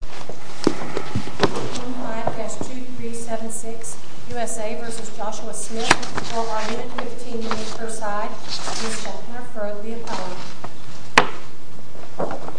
for 1 minute and 15 seconds per side, Mr. Hunter for the apology.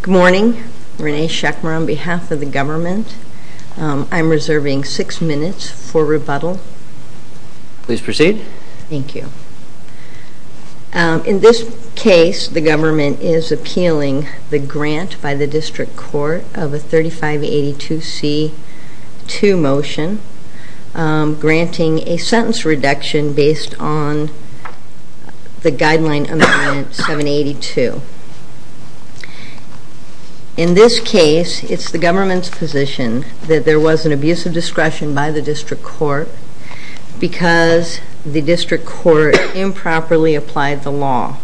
Good morning, Rene Schecmer on behalf of the government. I'm reserving 6 minutes for rebuttal. Please proceed. Thank you. In this case, the government is appealing the grant by the district court of a 3582C2 motion, granting a sentence reduction based on the guideline amendment 782. In this case, it's the government's position that there was an abuse of discretion by the district court because the district court improperly applied the law.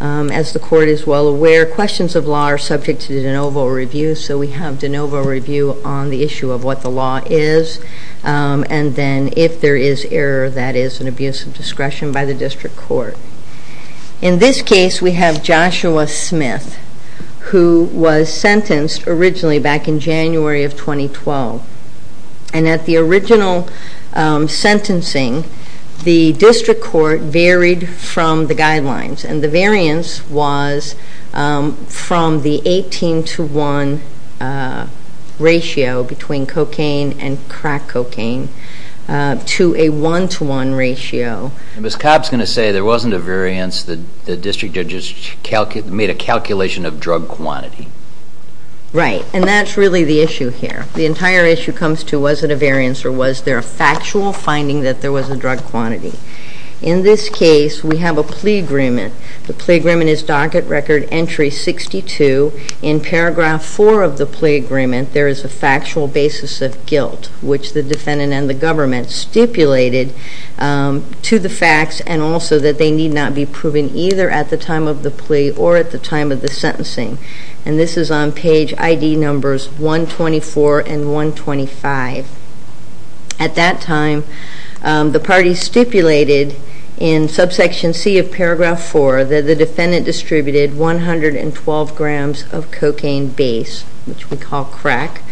As the court is well aware, questions of law are subject to de novo review, so we have de novo review on the issue of what the law is, and then if there is error, that is an abuse of discretion by the district court. In this case, we have Joshua Smith, who was sentenced originally back in January of 2012. And at the original sentencing, the district court varied from the guidelines, and the variance was from the 18 to 1 ratio between cocaine and crack cocaine to a 1 to 1 ratio. Ms. Cobb is going to say there wasn't a variance, the district judges made a calculation of drug quantity. Right, and that's really the issue here. The entire issue comes to was it a variance or was there a factual finding that there was a drug quantity. In this case, we have a plea agreement. The plea agreement is docket record entry 62. In paragraph 4 of the plea agreement, there is a factual basis of guilt, which the defendant and the government stipulated to the facts and also that they need not be proven either at the time of the plea or at the time of the sentencing. And this is on page ID numbers 124 and 125. At that time, the parties stipulated in subsection C of paragraph 4 that the defendant distributed 112 grams of cocaine base, which we call crack.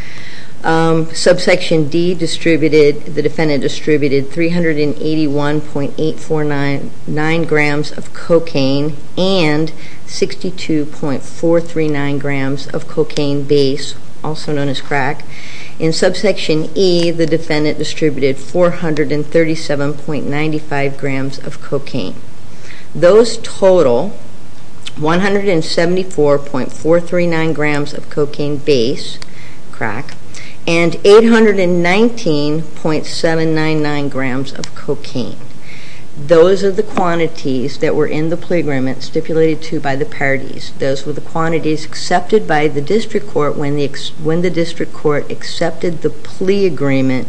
Subsection D distributed, the defendant distributed 381.849 grams of cocaine and 62.439 grams of cocaine base, also known as crack. In subsection E, the defendant distributed 437.95 grams of cocaine. Those total 174.439 grams of cocaine base, crack, and 819.799 grams of cocaine. Those are the quantities that were in the plea agreement stipulated to by the parties. Those were the quantities accepted by the district court when the district court accepted the plea agreement,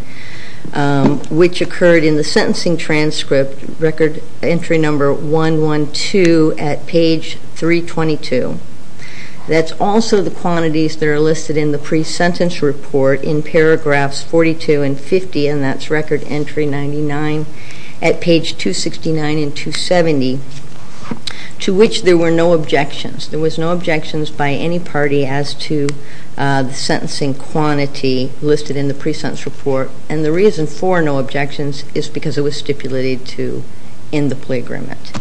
which occurred in the sentencing transcript, record entry number 112 at page 322. That's also the quantities that are listed in the presentence report in paragraphs 42 and 50, and that's record entry 99 at page 269 and 270, to which there were no objections. There was no objections by any party as to the sentencing quantity listed in the presentence report. And the reason for no objections is because it was stipulated to in the plea agreement.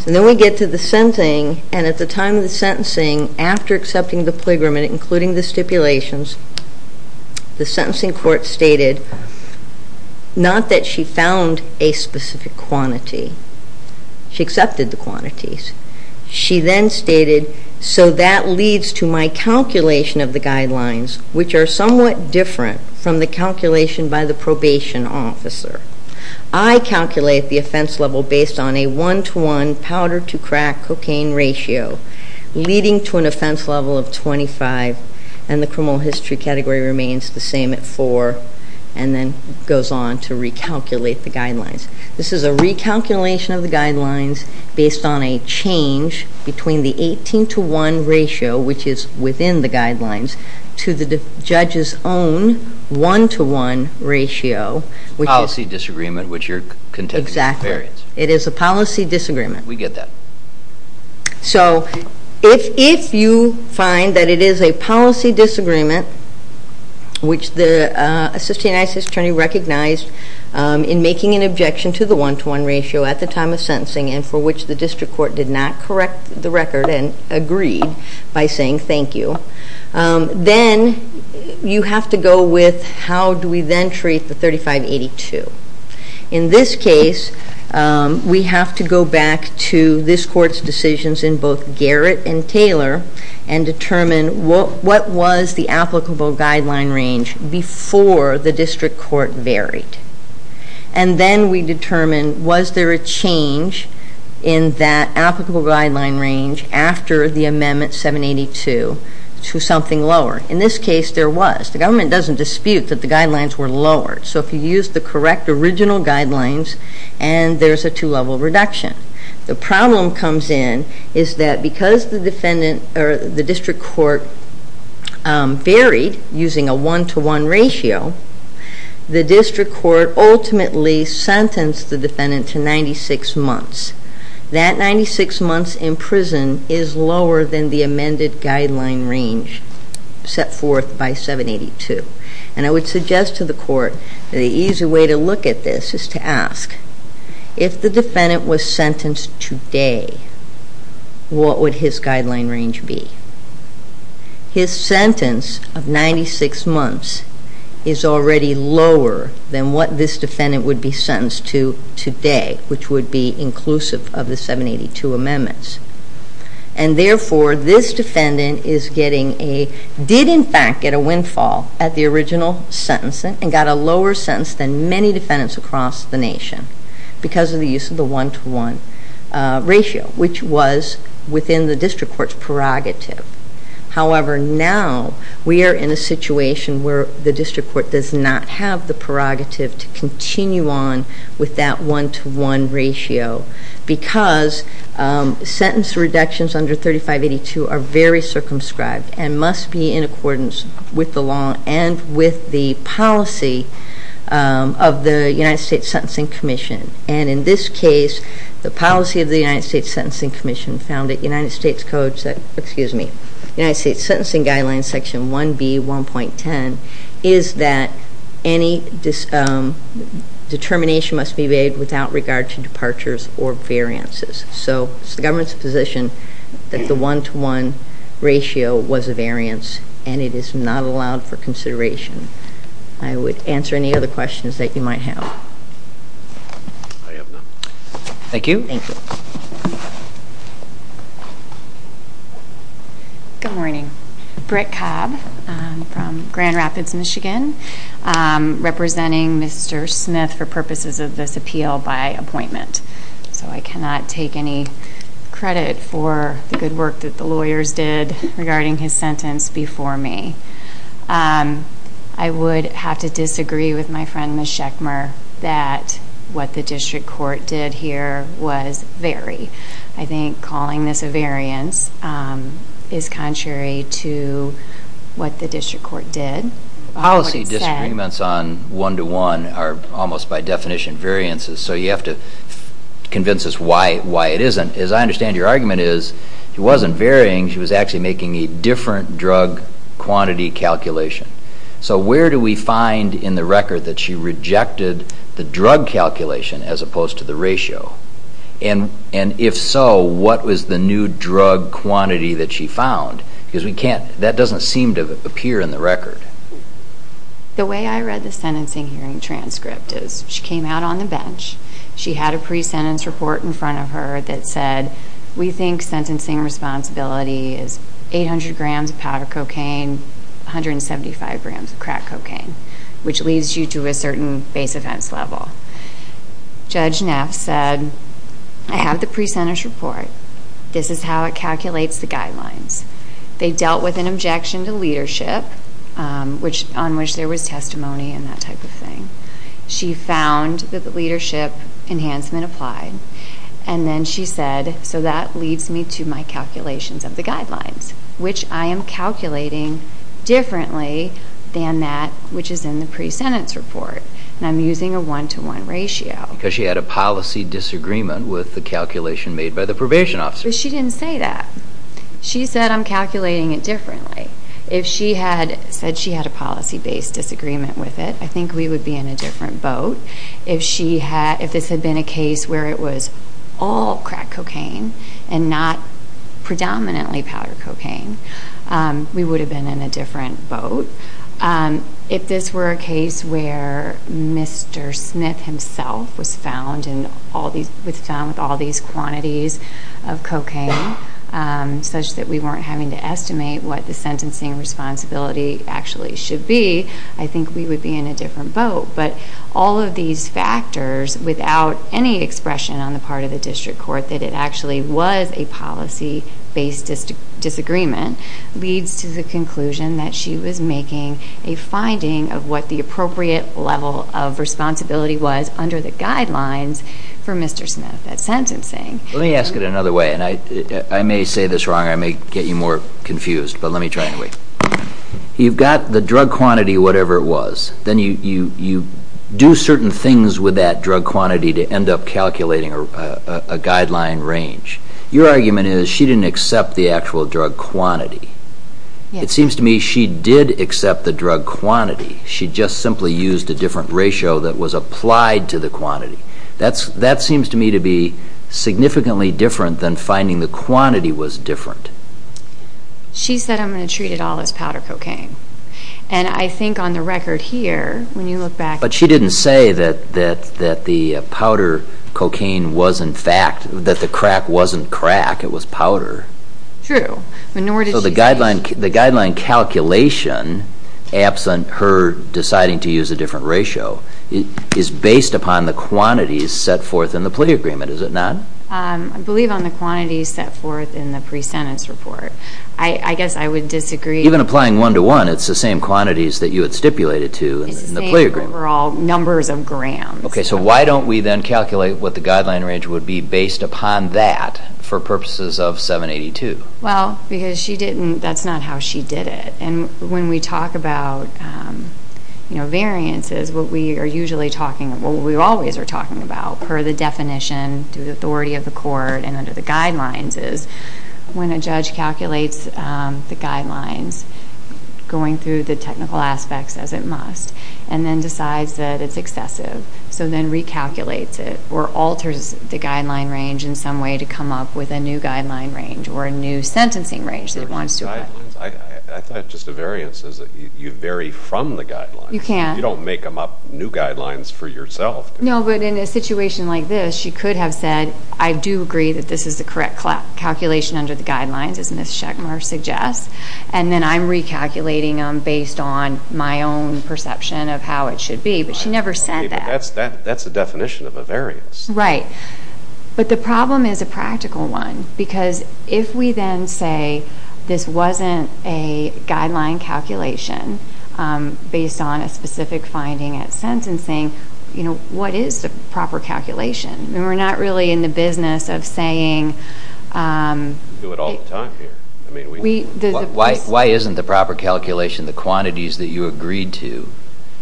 So then we get to the sentencing. And at the time of the sentencing, after accepting the plea agreement, including the stipulations, the sentencing court stated not that she found a specific quantity. She accepted the quantities. She then stated, so that leads to my calculation of the guidelines, which are somewhat different from the calculation by the probation officer. I calculate the offense level based on a one-to-one powder-to-crack cocaine ratio, leading to an offense level of 25, and the criminal history category remains the same at 4, and then goes on to recalculate the guidelines. This is a recalculation of the guidelines based on a change between the 18-to-1 ratio, which is within the guidelines, to the judge's own one-to-one ratio. It's a policy disagreement, which you're contending is a variance. Exactly. It is a policy disagreement. We get that. So if you find that it is a policy disagreement, which the Assistant United States Attorney recognized in making an objection to the one-to-one ratio at the time of sentencing, and for which the district court did not correct the record and agreed by saying thank you, then you have to go with how do we then treat the 3582. In this case, we have to go back to this court's decisions in both Garrett and Taylor and determine what was the applicable guideline range before the district court varied. And then we determine was there a change in that applicable guideline range after the amendment 782 to something lower. In this case, there was. The government doesn't dispute that the guidelines were lowered. So if you use the correct original guidelines and there's a two-level reduction. The problem comes in is that because the district court varied using a one-to-one ratio, the district court ultimately sentenced the defendant to 96 months. That 96 months in prison is lower than the amended guideline range set forth by 782. And I would suggest to the court that the easy way to look at this is to ask, if the defendant was sentenced today, what would his guideline range be? His sentence of 96 months is already lower than what this defendant would be sentenced to today, which would be inclusive of the 782 amendments. And therefore, this defendant is getting a, did in fact get a windfall at the original sentencing and got a lower sentence than many defendants across the nation because of the use of the one-to-one ratio, which was within the district court's prerogative. However, now we are in a situation where the district court does not have the prerogative to continue on with that one-to-one ratio. Because sentence reductions under 3582 are very circumscribed and must be in accordance with the law and with the policy of the United States Sentencing Commission. And in this case, the policy of the United States Sentencing Commission found that United States Code, excuse me, United States Sentencing Guidelines Section 1B, 1.10, is that any determination must be made without regard to departures or variances. So, it's the government's position that the one-to-one ratio was a variance and it is not allowed for consideration. I would answer any other questions that you might have. I have none. Thank you. Thank you. Good morning. Britt Cobb from Grand Rapids, Michigan, representing Mr. Smith for purposes of this appeal by appointment. So, I cannot take any credit for the good work that the lawyers did regarding his sentence before me. I would have to disagree with my friend, Ms. Schechmer, that what the district court did here was vary. I think calling this a variance is contrary to what the district court did. Policy disagreements on one-to-one are almost by definition variances, so you have to convince us why it isn't. As I understand your argument is, it wasn't varying. She was actually making a different drug quantity calculation. So, where do we find in the record that she rejected the drug calculation as opposed to the ratio? And if so, what was the new drug quantity that she found? Because that doesn't seem to appear in the record. The way I read the sentencing hearing transcript is she came out on the bench. She had a pre-sentence report in front of her that said, we think sentencing responsibility is 800 grams of powder cocaine, 175 grams of crack cocaine, which leads you to a certain base offense level. Judge Neff said, I have the pre-sentence report. This is how it calculates the guidelines. They dealt with an objection to leadership, on which there was testimony and that type of thing. She found that the leadership enhancement applied. And then she said, so that leads me to my calculations of the guidelines, which I am calculating differently than that which is in the pre-sentence report. And I'm using a one-to-one ratio. Because she had a policy disagreement with the calculation made by the probation officer. But she didn't say that. She said, I'm calculating it differently. If she had said she had a policy-based disagreement with it, I think we would be in a different boat. If this had been a case where it was all crack cocaine and not predominantly powder cocaine, we would have been in a different boat. If this were a case where Mr. Smith himself was found with all these quantities of cocaine, such that we weren't having to estimate what the sentencing responsibility actually should be, I think we would be in a different boat. But all of these factors, without any expression on the part of the district court that it actually was a policy-based disagreement, leads to the conclusion that she was making a finding of what the appropriate level of responsibility was under the guidelines for Mr. Smith at sentencing. Let me ask it another way. And I may say this wrong. I may get you more confused. But let me try anyway. You've got the drug quantity, whatever it was. Then you do certain things with that drug quantity to end up calculating a guideline range. Your argument is she didn't accept the actual drug quantity. It seems to me she did accept the drug quantity. She just simply used a different ratio that was applied to the quantity. That seems to me to be significantly different than finding the quantity was different. She said, I'm going to treat it all as powder cocaine. And I think on the record here, when you look back... But she didn't say that the crack wasn't crack, it was powder. True. So the guideline calculation, absent her deciding to use a different ratio, is based upon the quantities set forth in the plea agreement, is it not? I believe on the quantities set forth in the pre-sentence report. I guess I would disagree. Even applying one-to-one, it's the same quantities that you had stipulated to in the plea agreement. It's the same overall numbers of grams. Okay. So why don't we then calculate what the guideline range would be based upon that for purposes of 782? Well, because that's not how she did it. And when we talk about variances, what we are usually talking about, what we always are talking about per the definition to the authority of the court and under the guidelines, is when a judge calculates the guidelines, going through the technical aspects as it must, and then decides that it's excessive, so then recalculates it or alters the guideline range in some way to come up with a new guideline range I thought just a variance is that you vary from the guidelines. You can't. You don't make them up new guidelines for yourself. No, but in a situation like this, she could have said, I do agree that this is the correct calculation under the guidelines, as Ms. Schechmer suggests, and then I'm recalculating them based on my own perception of how it should be. But she never said that. That's the definition of a variance. Right. But the problem is a practical one, because if we then say this wasn't a guideline calculation based on a specific finding at sentencing, what is the proper calculation? We're not really in the business of saying... We do it all the time here. Why isn't the proper calculation the quantities that you agreed to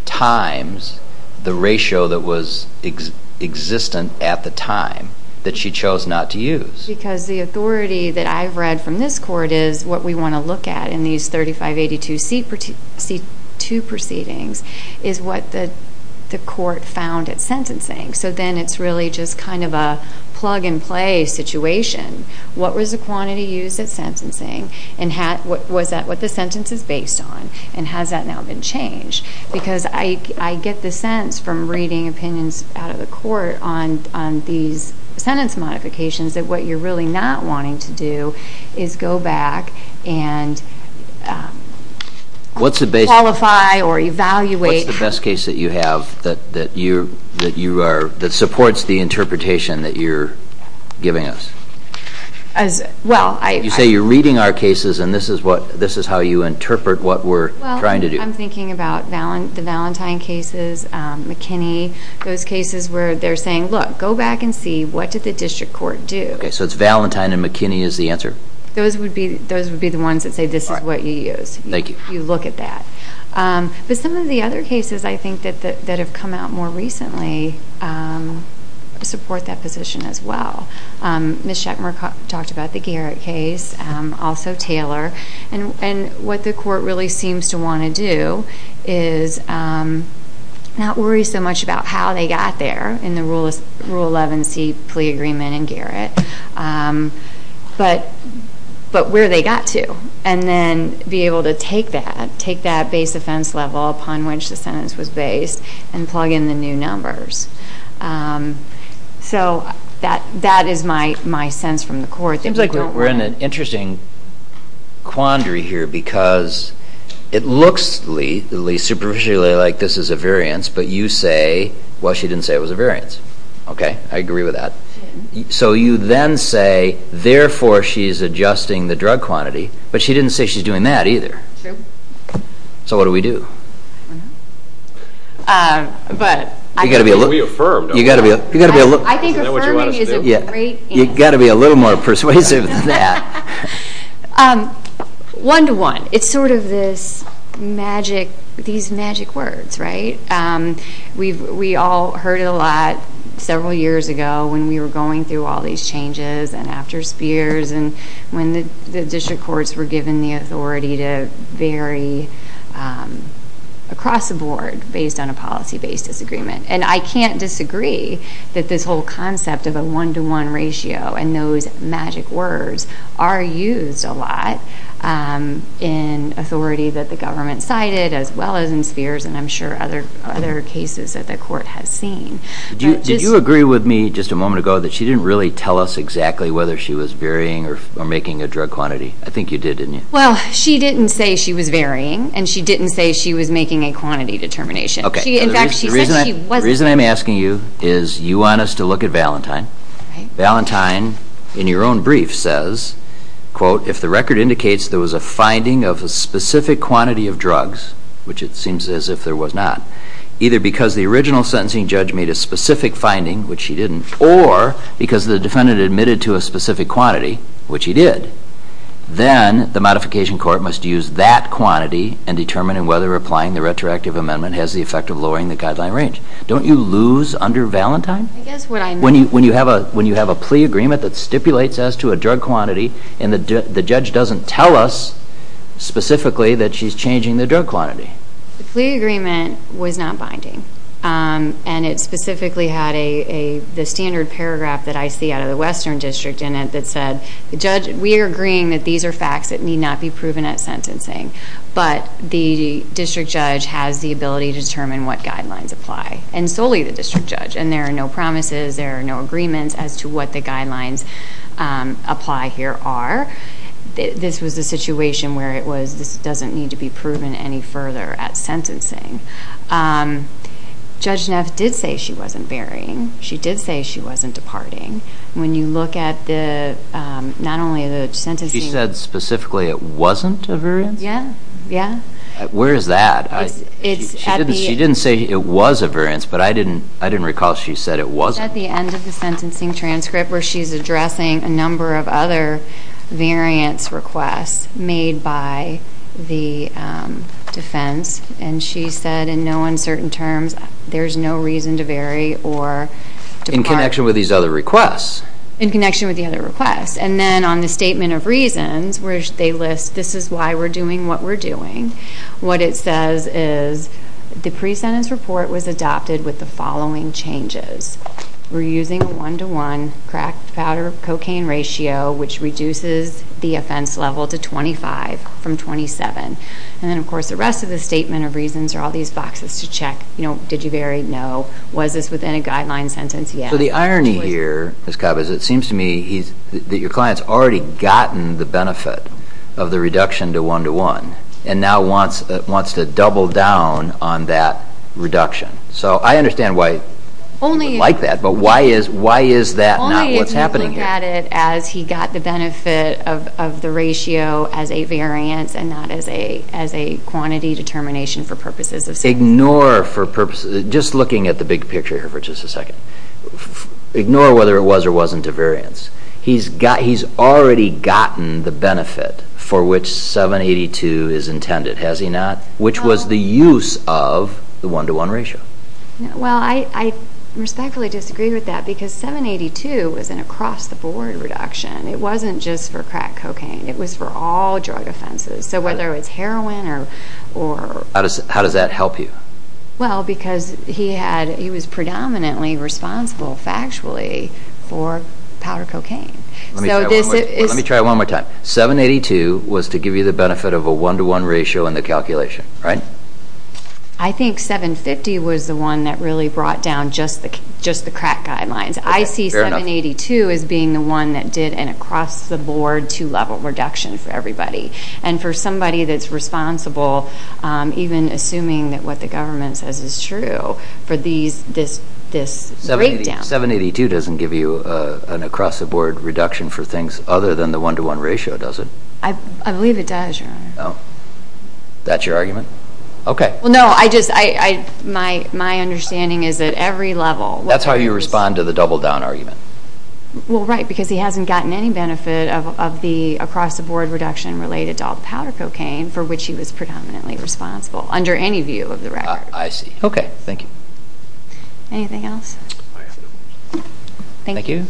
times the ratio that was existent at the time that she chose not to use? Because the authority that I've read from this court is what we want to look at in these 3582C2 proceedings is what the court found at sentencing. So then it's really just kind of a plug-and-play situation. What was the quantity used at sentencing, and was that what the sentence is based on, and has that now been changed? Because I get the sense from reading opinions out of the court on these sentence modifications that what you're really not wanting to do is go back and qualify or evaluate. What's the best case that you have that supports the interpretation that you're giving us? Well, I... You say you're reading our cases, and this is how you interpret what we're trying to do. I'm thinking about the Valentine cases, McKinney, those cases where they're saying, Look, go back and see what did the district court do? Okay, so it's Valentine, and McKinney is the answer? Those would be the ones that say this is what you used. Thank you. You look at that. But some of the other cases, I think, that have come out more recently support that position as well. Ms. Schechmer talked about the Garrett case, also Taylor. And what the court really seems to want to do is not worry so much about how they got there in the Rule 11c plea agreement in Garrett, but where they got to, and then be able to take that, take that base offense level upon which the sentence was based, and plug in the new numbers. So that is my sense from the court. It seems like we're in an interesting quandary here because it looks, at least superficially, like this is a variance, but you say, well, she didn't say it was a variance. Okay, I agree with that. So you then say, therefore, she's adjusting the drug quantity, but she didn't say she's doing that either. True. So what do we do? We affirm, don't we? I think affirming is a great answer. You've got to be a little more persuasive than that. One-to-one. It's sort of these magic words, right? We all heard it a lot several years ago when we were going through all these changes and after Spears and when the district courts were given the authority to vary across the board based on a policy-based disagreement. And I can't disagree that this whole concept of a one-to-one ratio and those magic words are used a lot in authority that the government cited as well as in Spears and I'm sure other cases that the court has seen. Did you agree with me just a moment ago that she didn't really tell us exactly whether she was varying or making a drug quantity? I think you did, didn't you? Well, she didn't say she was varying, and she didn't say she was making a quantity determination. The reason I'm asking you is you want us to look at Valentine. Valentine, in your own brief, says, quote, if the record indicates there was a finding of a specific quantity of drugs, which it seems as if there was not, either because the original sentencing judge made a specific finding, which he didn't, or because the defendant admitted to a specific quantity, which he did, then the modification court must use that quantity and determine whether applying the retroactive amendment has the effect of lowering the guideline range. Don't you lose under Valentine when you have a plea agreement that stipulates as to a drug quantity and the judge doesn't tell us specifically that she's changing the drug quantity? The plea agreement was not binding, and it specifically had the standard paragraph that I see out of the Western District in it that said, we are agreeing that these are facts that need not be proven at sentencing, but the district judge has the ability to determine what guidelines apply, and solely the district judge, and there are no promises, there are no agreements as to what the guidelines apply here are. This was a situation where this doesn't need to be proven any further at sentencing. Judge Neff did say she wasn't varying. She did say she wasn't departing. When you look at not only the sentencing. She said specifically it wasn't a variance? Yeah. Where is that? She didn't say it was a variance, but I didn't recall she said it wasn't. It's at the end of the sentencing transcript where she's addressing a number of other variance requests made by the defense, and she said in no uncertain terms there's no reason to vary or depart. In connection with these other requests? In connection with the other requests. And then on the statement of reasons where they list this is why we're doing what we're doing, what it says is the pre-sentence report was adopted with the following changes. We're using a one-to-one crack, powder, cocaine ratio, which reduces the offense level to 25 from 27. And then, of course, the rest of the statement of reasons are all these boxes to check. Did you vary? No. Was this within a guideline sentence? Yes. So the irony here, Ms. Cobb, is it seems to me that your client's already gotten the benefit of the reduction to one-to-one and now wants to double down on that reduction. So I understand why you would like that, but why is that not what's happening here? Only if you look at it as he got the benefit of the ratio as a variance and not as a quantity determination for purposes of sentencing. Ignore for purposes, just looking at the big picture here for just a second, ignore whether it was or wasn't a variance. He's already gotten the benefit for which 782 is intended, has he not? Which was the use of the one-to-one ratio. Well, I respectfully disagree with that because 782 was an across-the-board reduction. It wasn't just for crack, cocaine. It was for all drug offenses. So whether it was heroin or... How does that help you? Well, because he was predominantly responsible factually for powder cocaine. Let me try it one more time. 782 was to give you the benefit of a one-to-one ratio in the calculation, right? I think 750 was the one that really brought down just the crack guidelines. I see 782 as being the one that did an across-the-board two-level reduction for everybody. And for somebody that's responsible, even assuming that what the government says is true, for this breakdown. 782 doesn't give you an across-the-board reduction for things other than the one-to-one ratio, does it? I believe it does, Your Honor. That's your argument? Okay. Well, no, my understanding is that every level... That's how you respond to the double-down argument. Well, right, because he hasn't gotten any benefit of the across-the-board reduction related to all the powder cocaine for which he was predominantly responsible under any view of the record. I see. Okay. Thank you. Anything else? Thank you.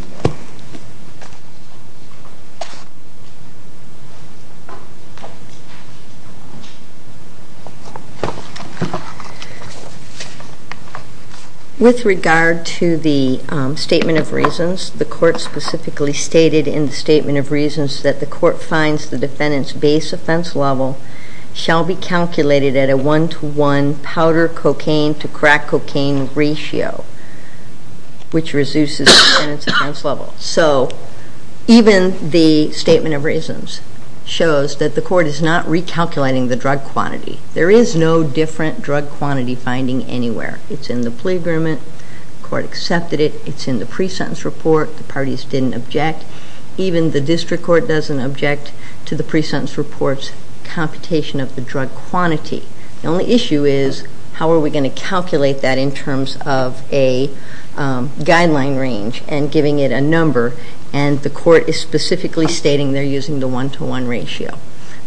With regard to the Statement of Reasons, the Court specifically stated in the Statement of Reasons that the Court finds the defendant's base offense level shall be calculated at a one-to-one powder cocaine-to-crack cocaine ratio, So even the Statement of Reasons shows that the Court is not recalculating the drug quantity. There is no different drug quantity finding anywhere. It's in the plea agreement. The Court accepted it. It's in the pre-sentence report. The parties didn't object. Even the district court doesn't object to the pre-sentence report's computation of the drug quantity. The only issue is how are we going to calculate that in terms of a guideline range and giving it a number, and the Court is specifically stating they're using the one-to-one ratio.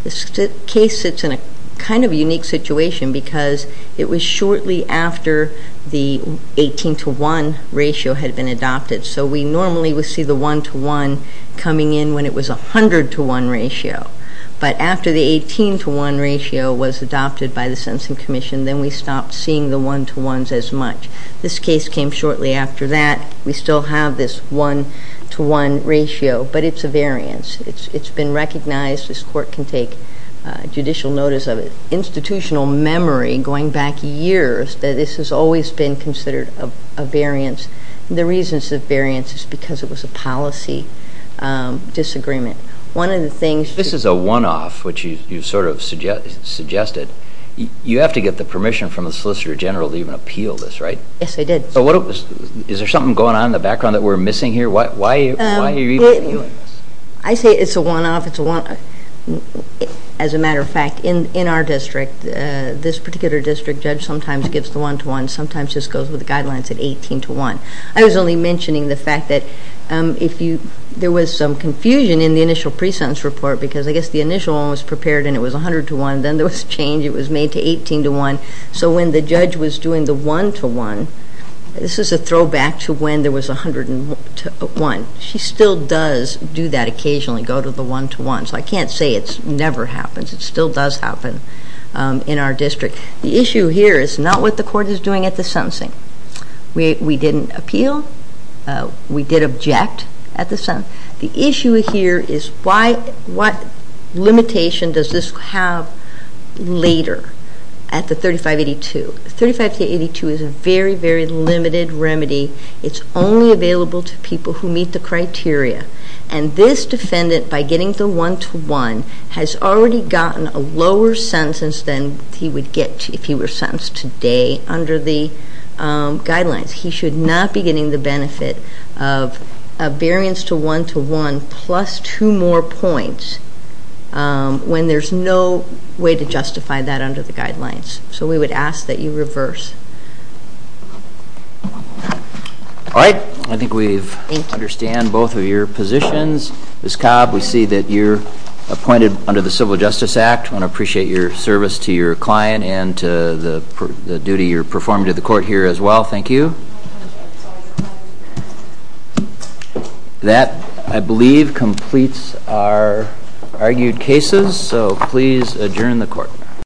This case sits in a kind of unique situation because it was shortly after the 18-to-one ratio had been adopted, so we normally would see the one-to-one coming in when it was a hundred-to-one ratio. But after the 18-to-one ratio was adopted by the Sentencing Commission, then we stopped seeing the one-to-ones as much. This case came shortly after that. We still have this one-to-one ratio, but it's a variance. It's been recognized. This Court can take judicial notice of it. Institutional memory going back years that this has always been considered a variance. The reason it's a variance is because it was a policy disagreement. One of the things— This is a one-off, which you sort of suggested. You have to get the permission from the Solicitor General to even appeal this, right? Yes, I did. Is there something going on in the background that we're missing here? Why are you even appealing this? I say it's a one-off. As a matter of fact, in our district, this particular district, judge sometimes gives the one-to-one, sometimes just goes with the guidelines at 18-to-one. I was only mentioning the fact that there was some confusion in the initial pre-sentence report because I guess the initial one was prepared and it was a hundred-to-one, then there was a change. It was made to 18-to-one. So when the judge was doing the one-to-one, this is a throwback to when there was a hundred-to-one. She still does do that occasionally, go to the one-to-one. So I can't say it never happens. It still does happen in our district. The issue here is not what the court is doing at the sentencing. We didn't appeal. We did object at the sentencing. The issue here is what limitation does this have later at the 35-82? The 35-82 is a very, very limited remedy. It's only available to people who meet the criteria. And this defendant, by getting the one-to-one, has already gotten a lower sentence than he would get if he were sentenced today under the guidelines. He should not be getting the benefit of a variance to one-to-one plus two more points when there's no way to justify that under the guidelines. So we would ask that you reverse. All right. I think we understand both of your positions. Ms. Cobb, we see that you're appointed under the Civil Justice Act. I want to appreciate your service to your client and to the duty you're performing to the court here as well. Thank you. That, I believe, completes our argued cases. So please adjourn the court.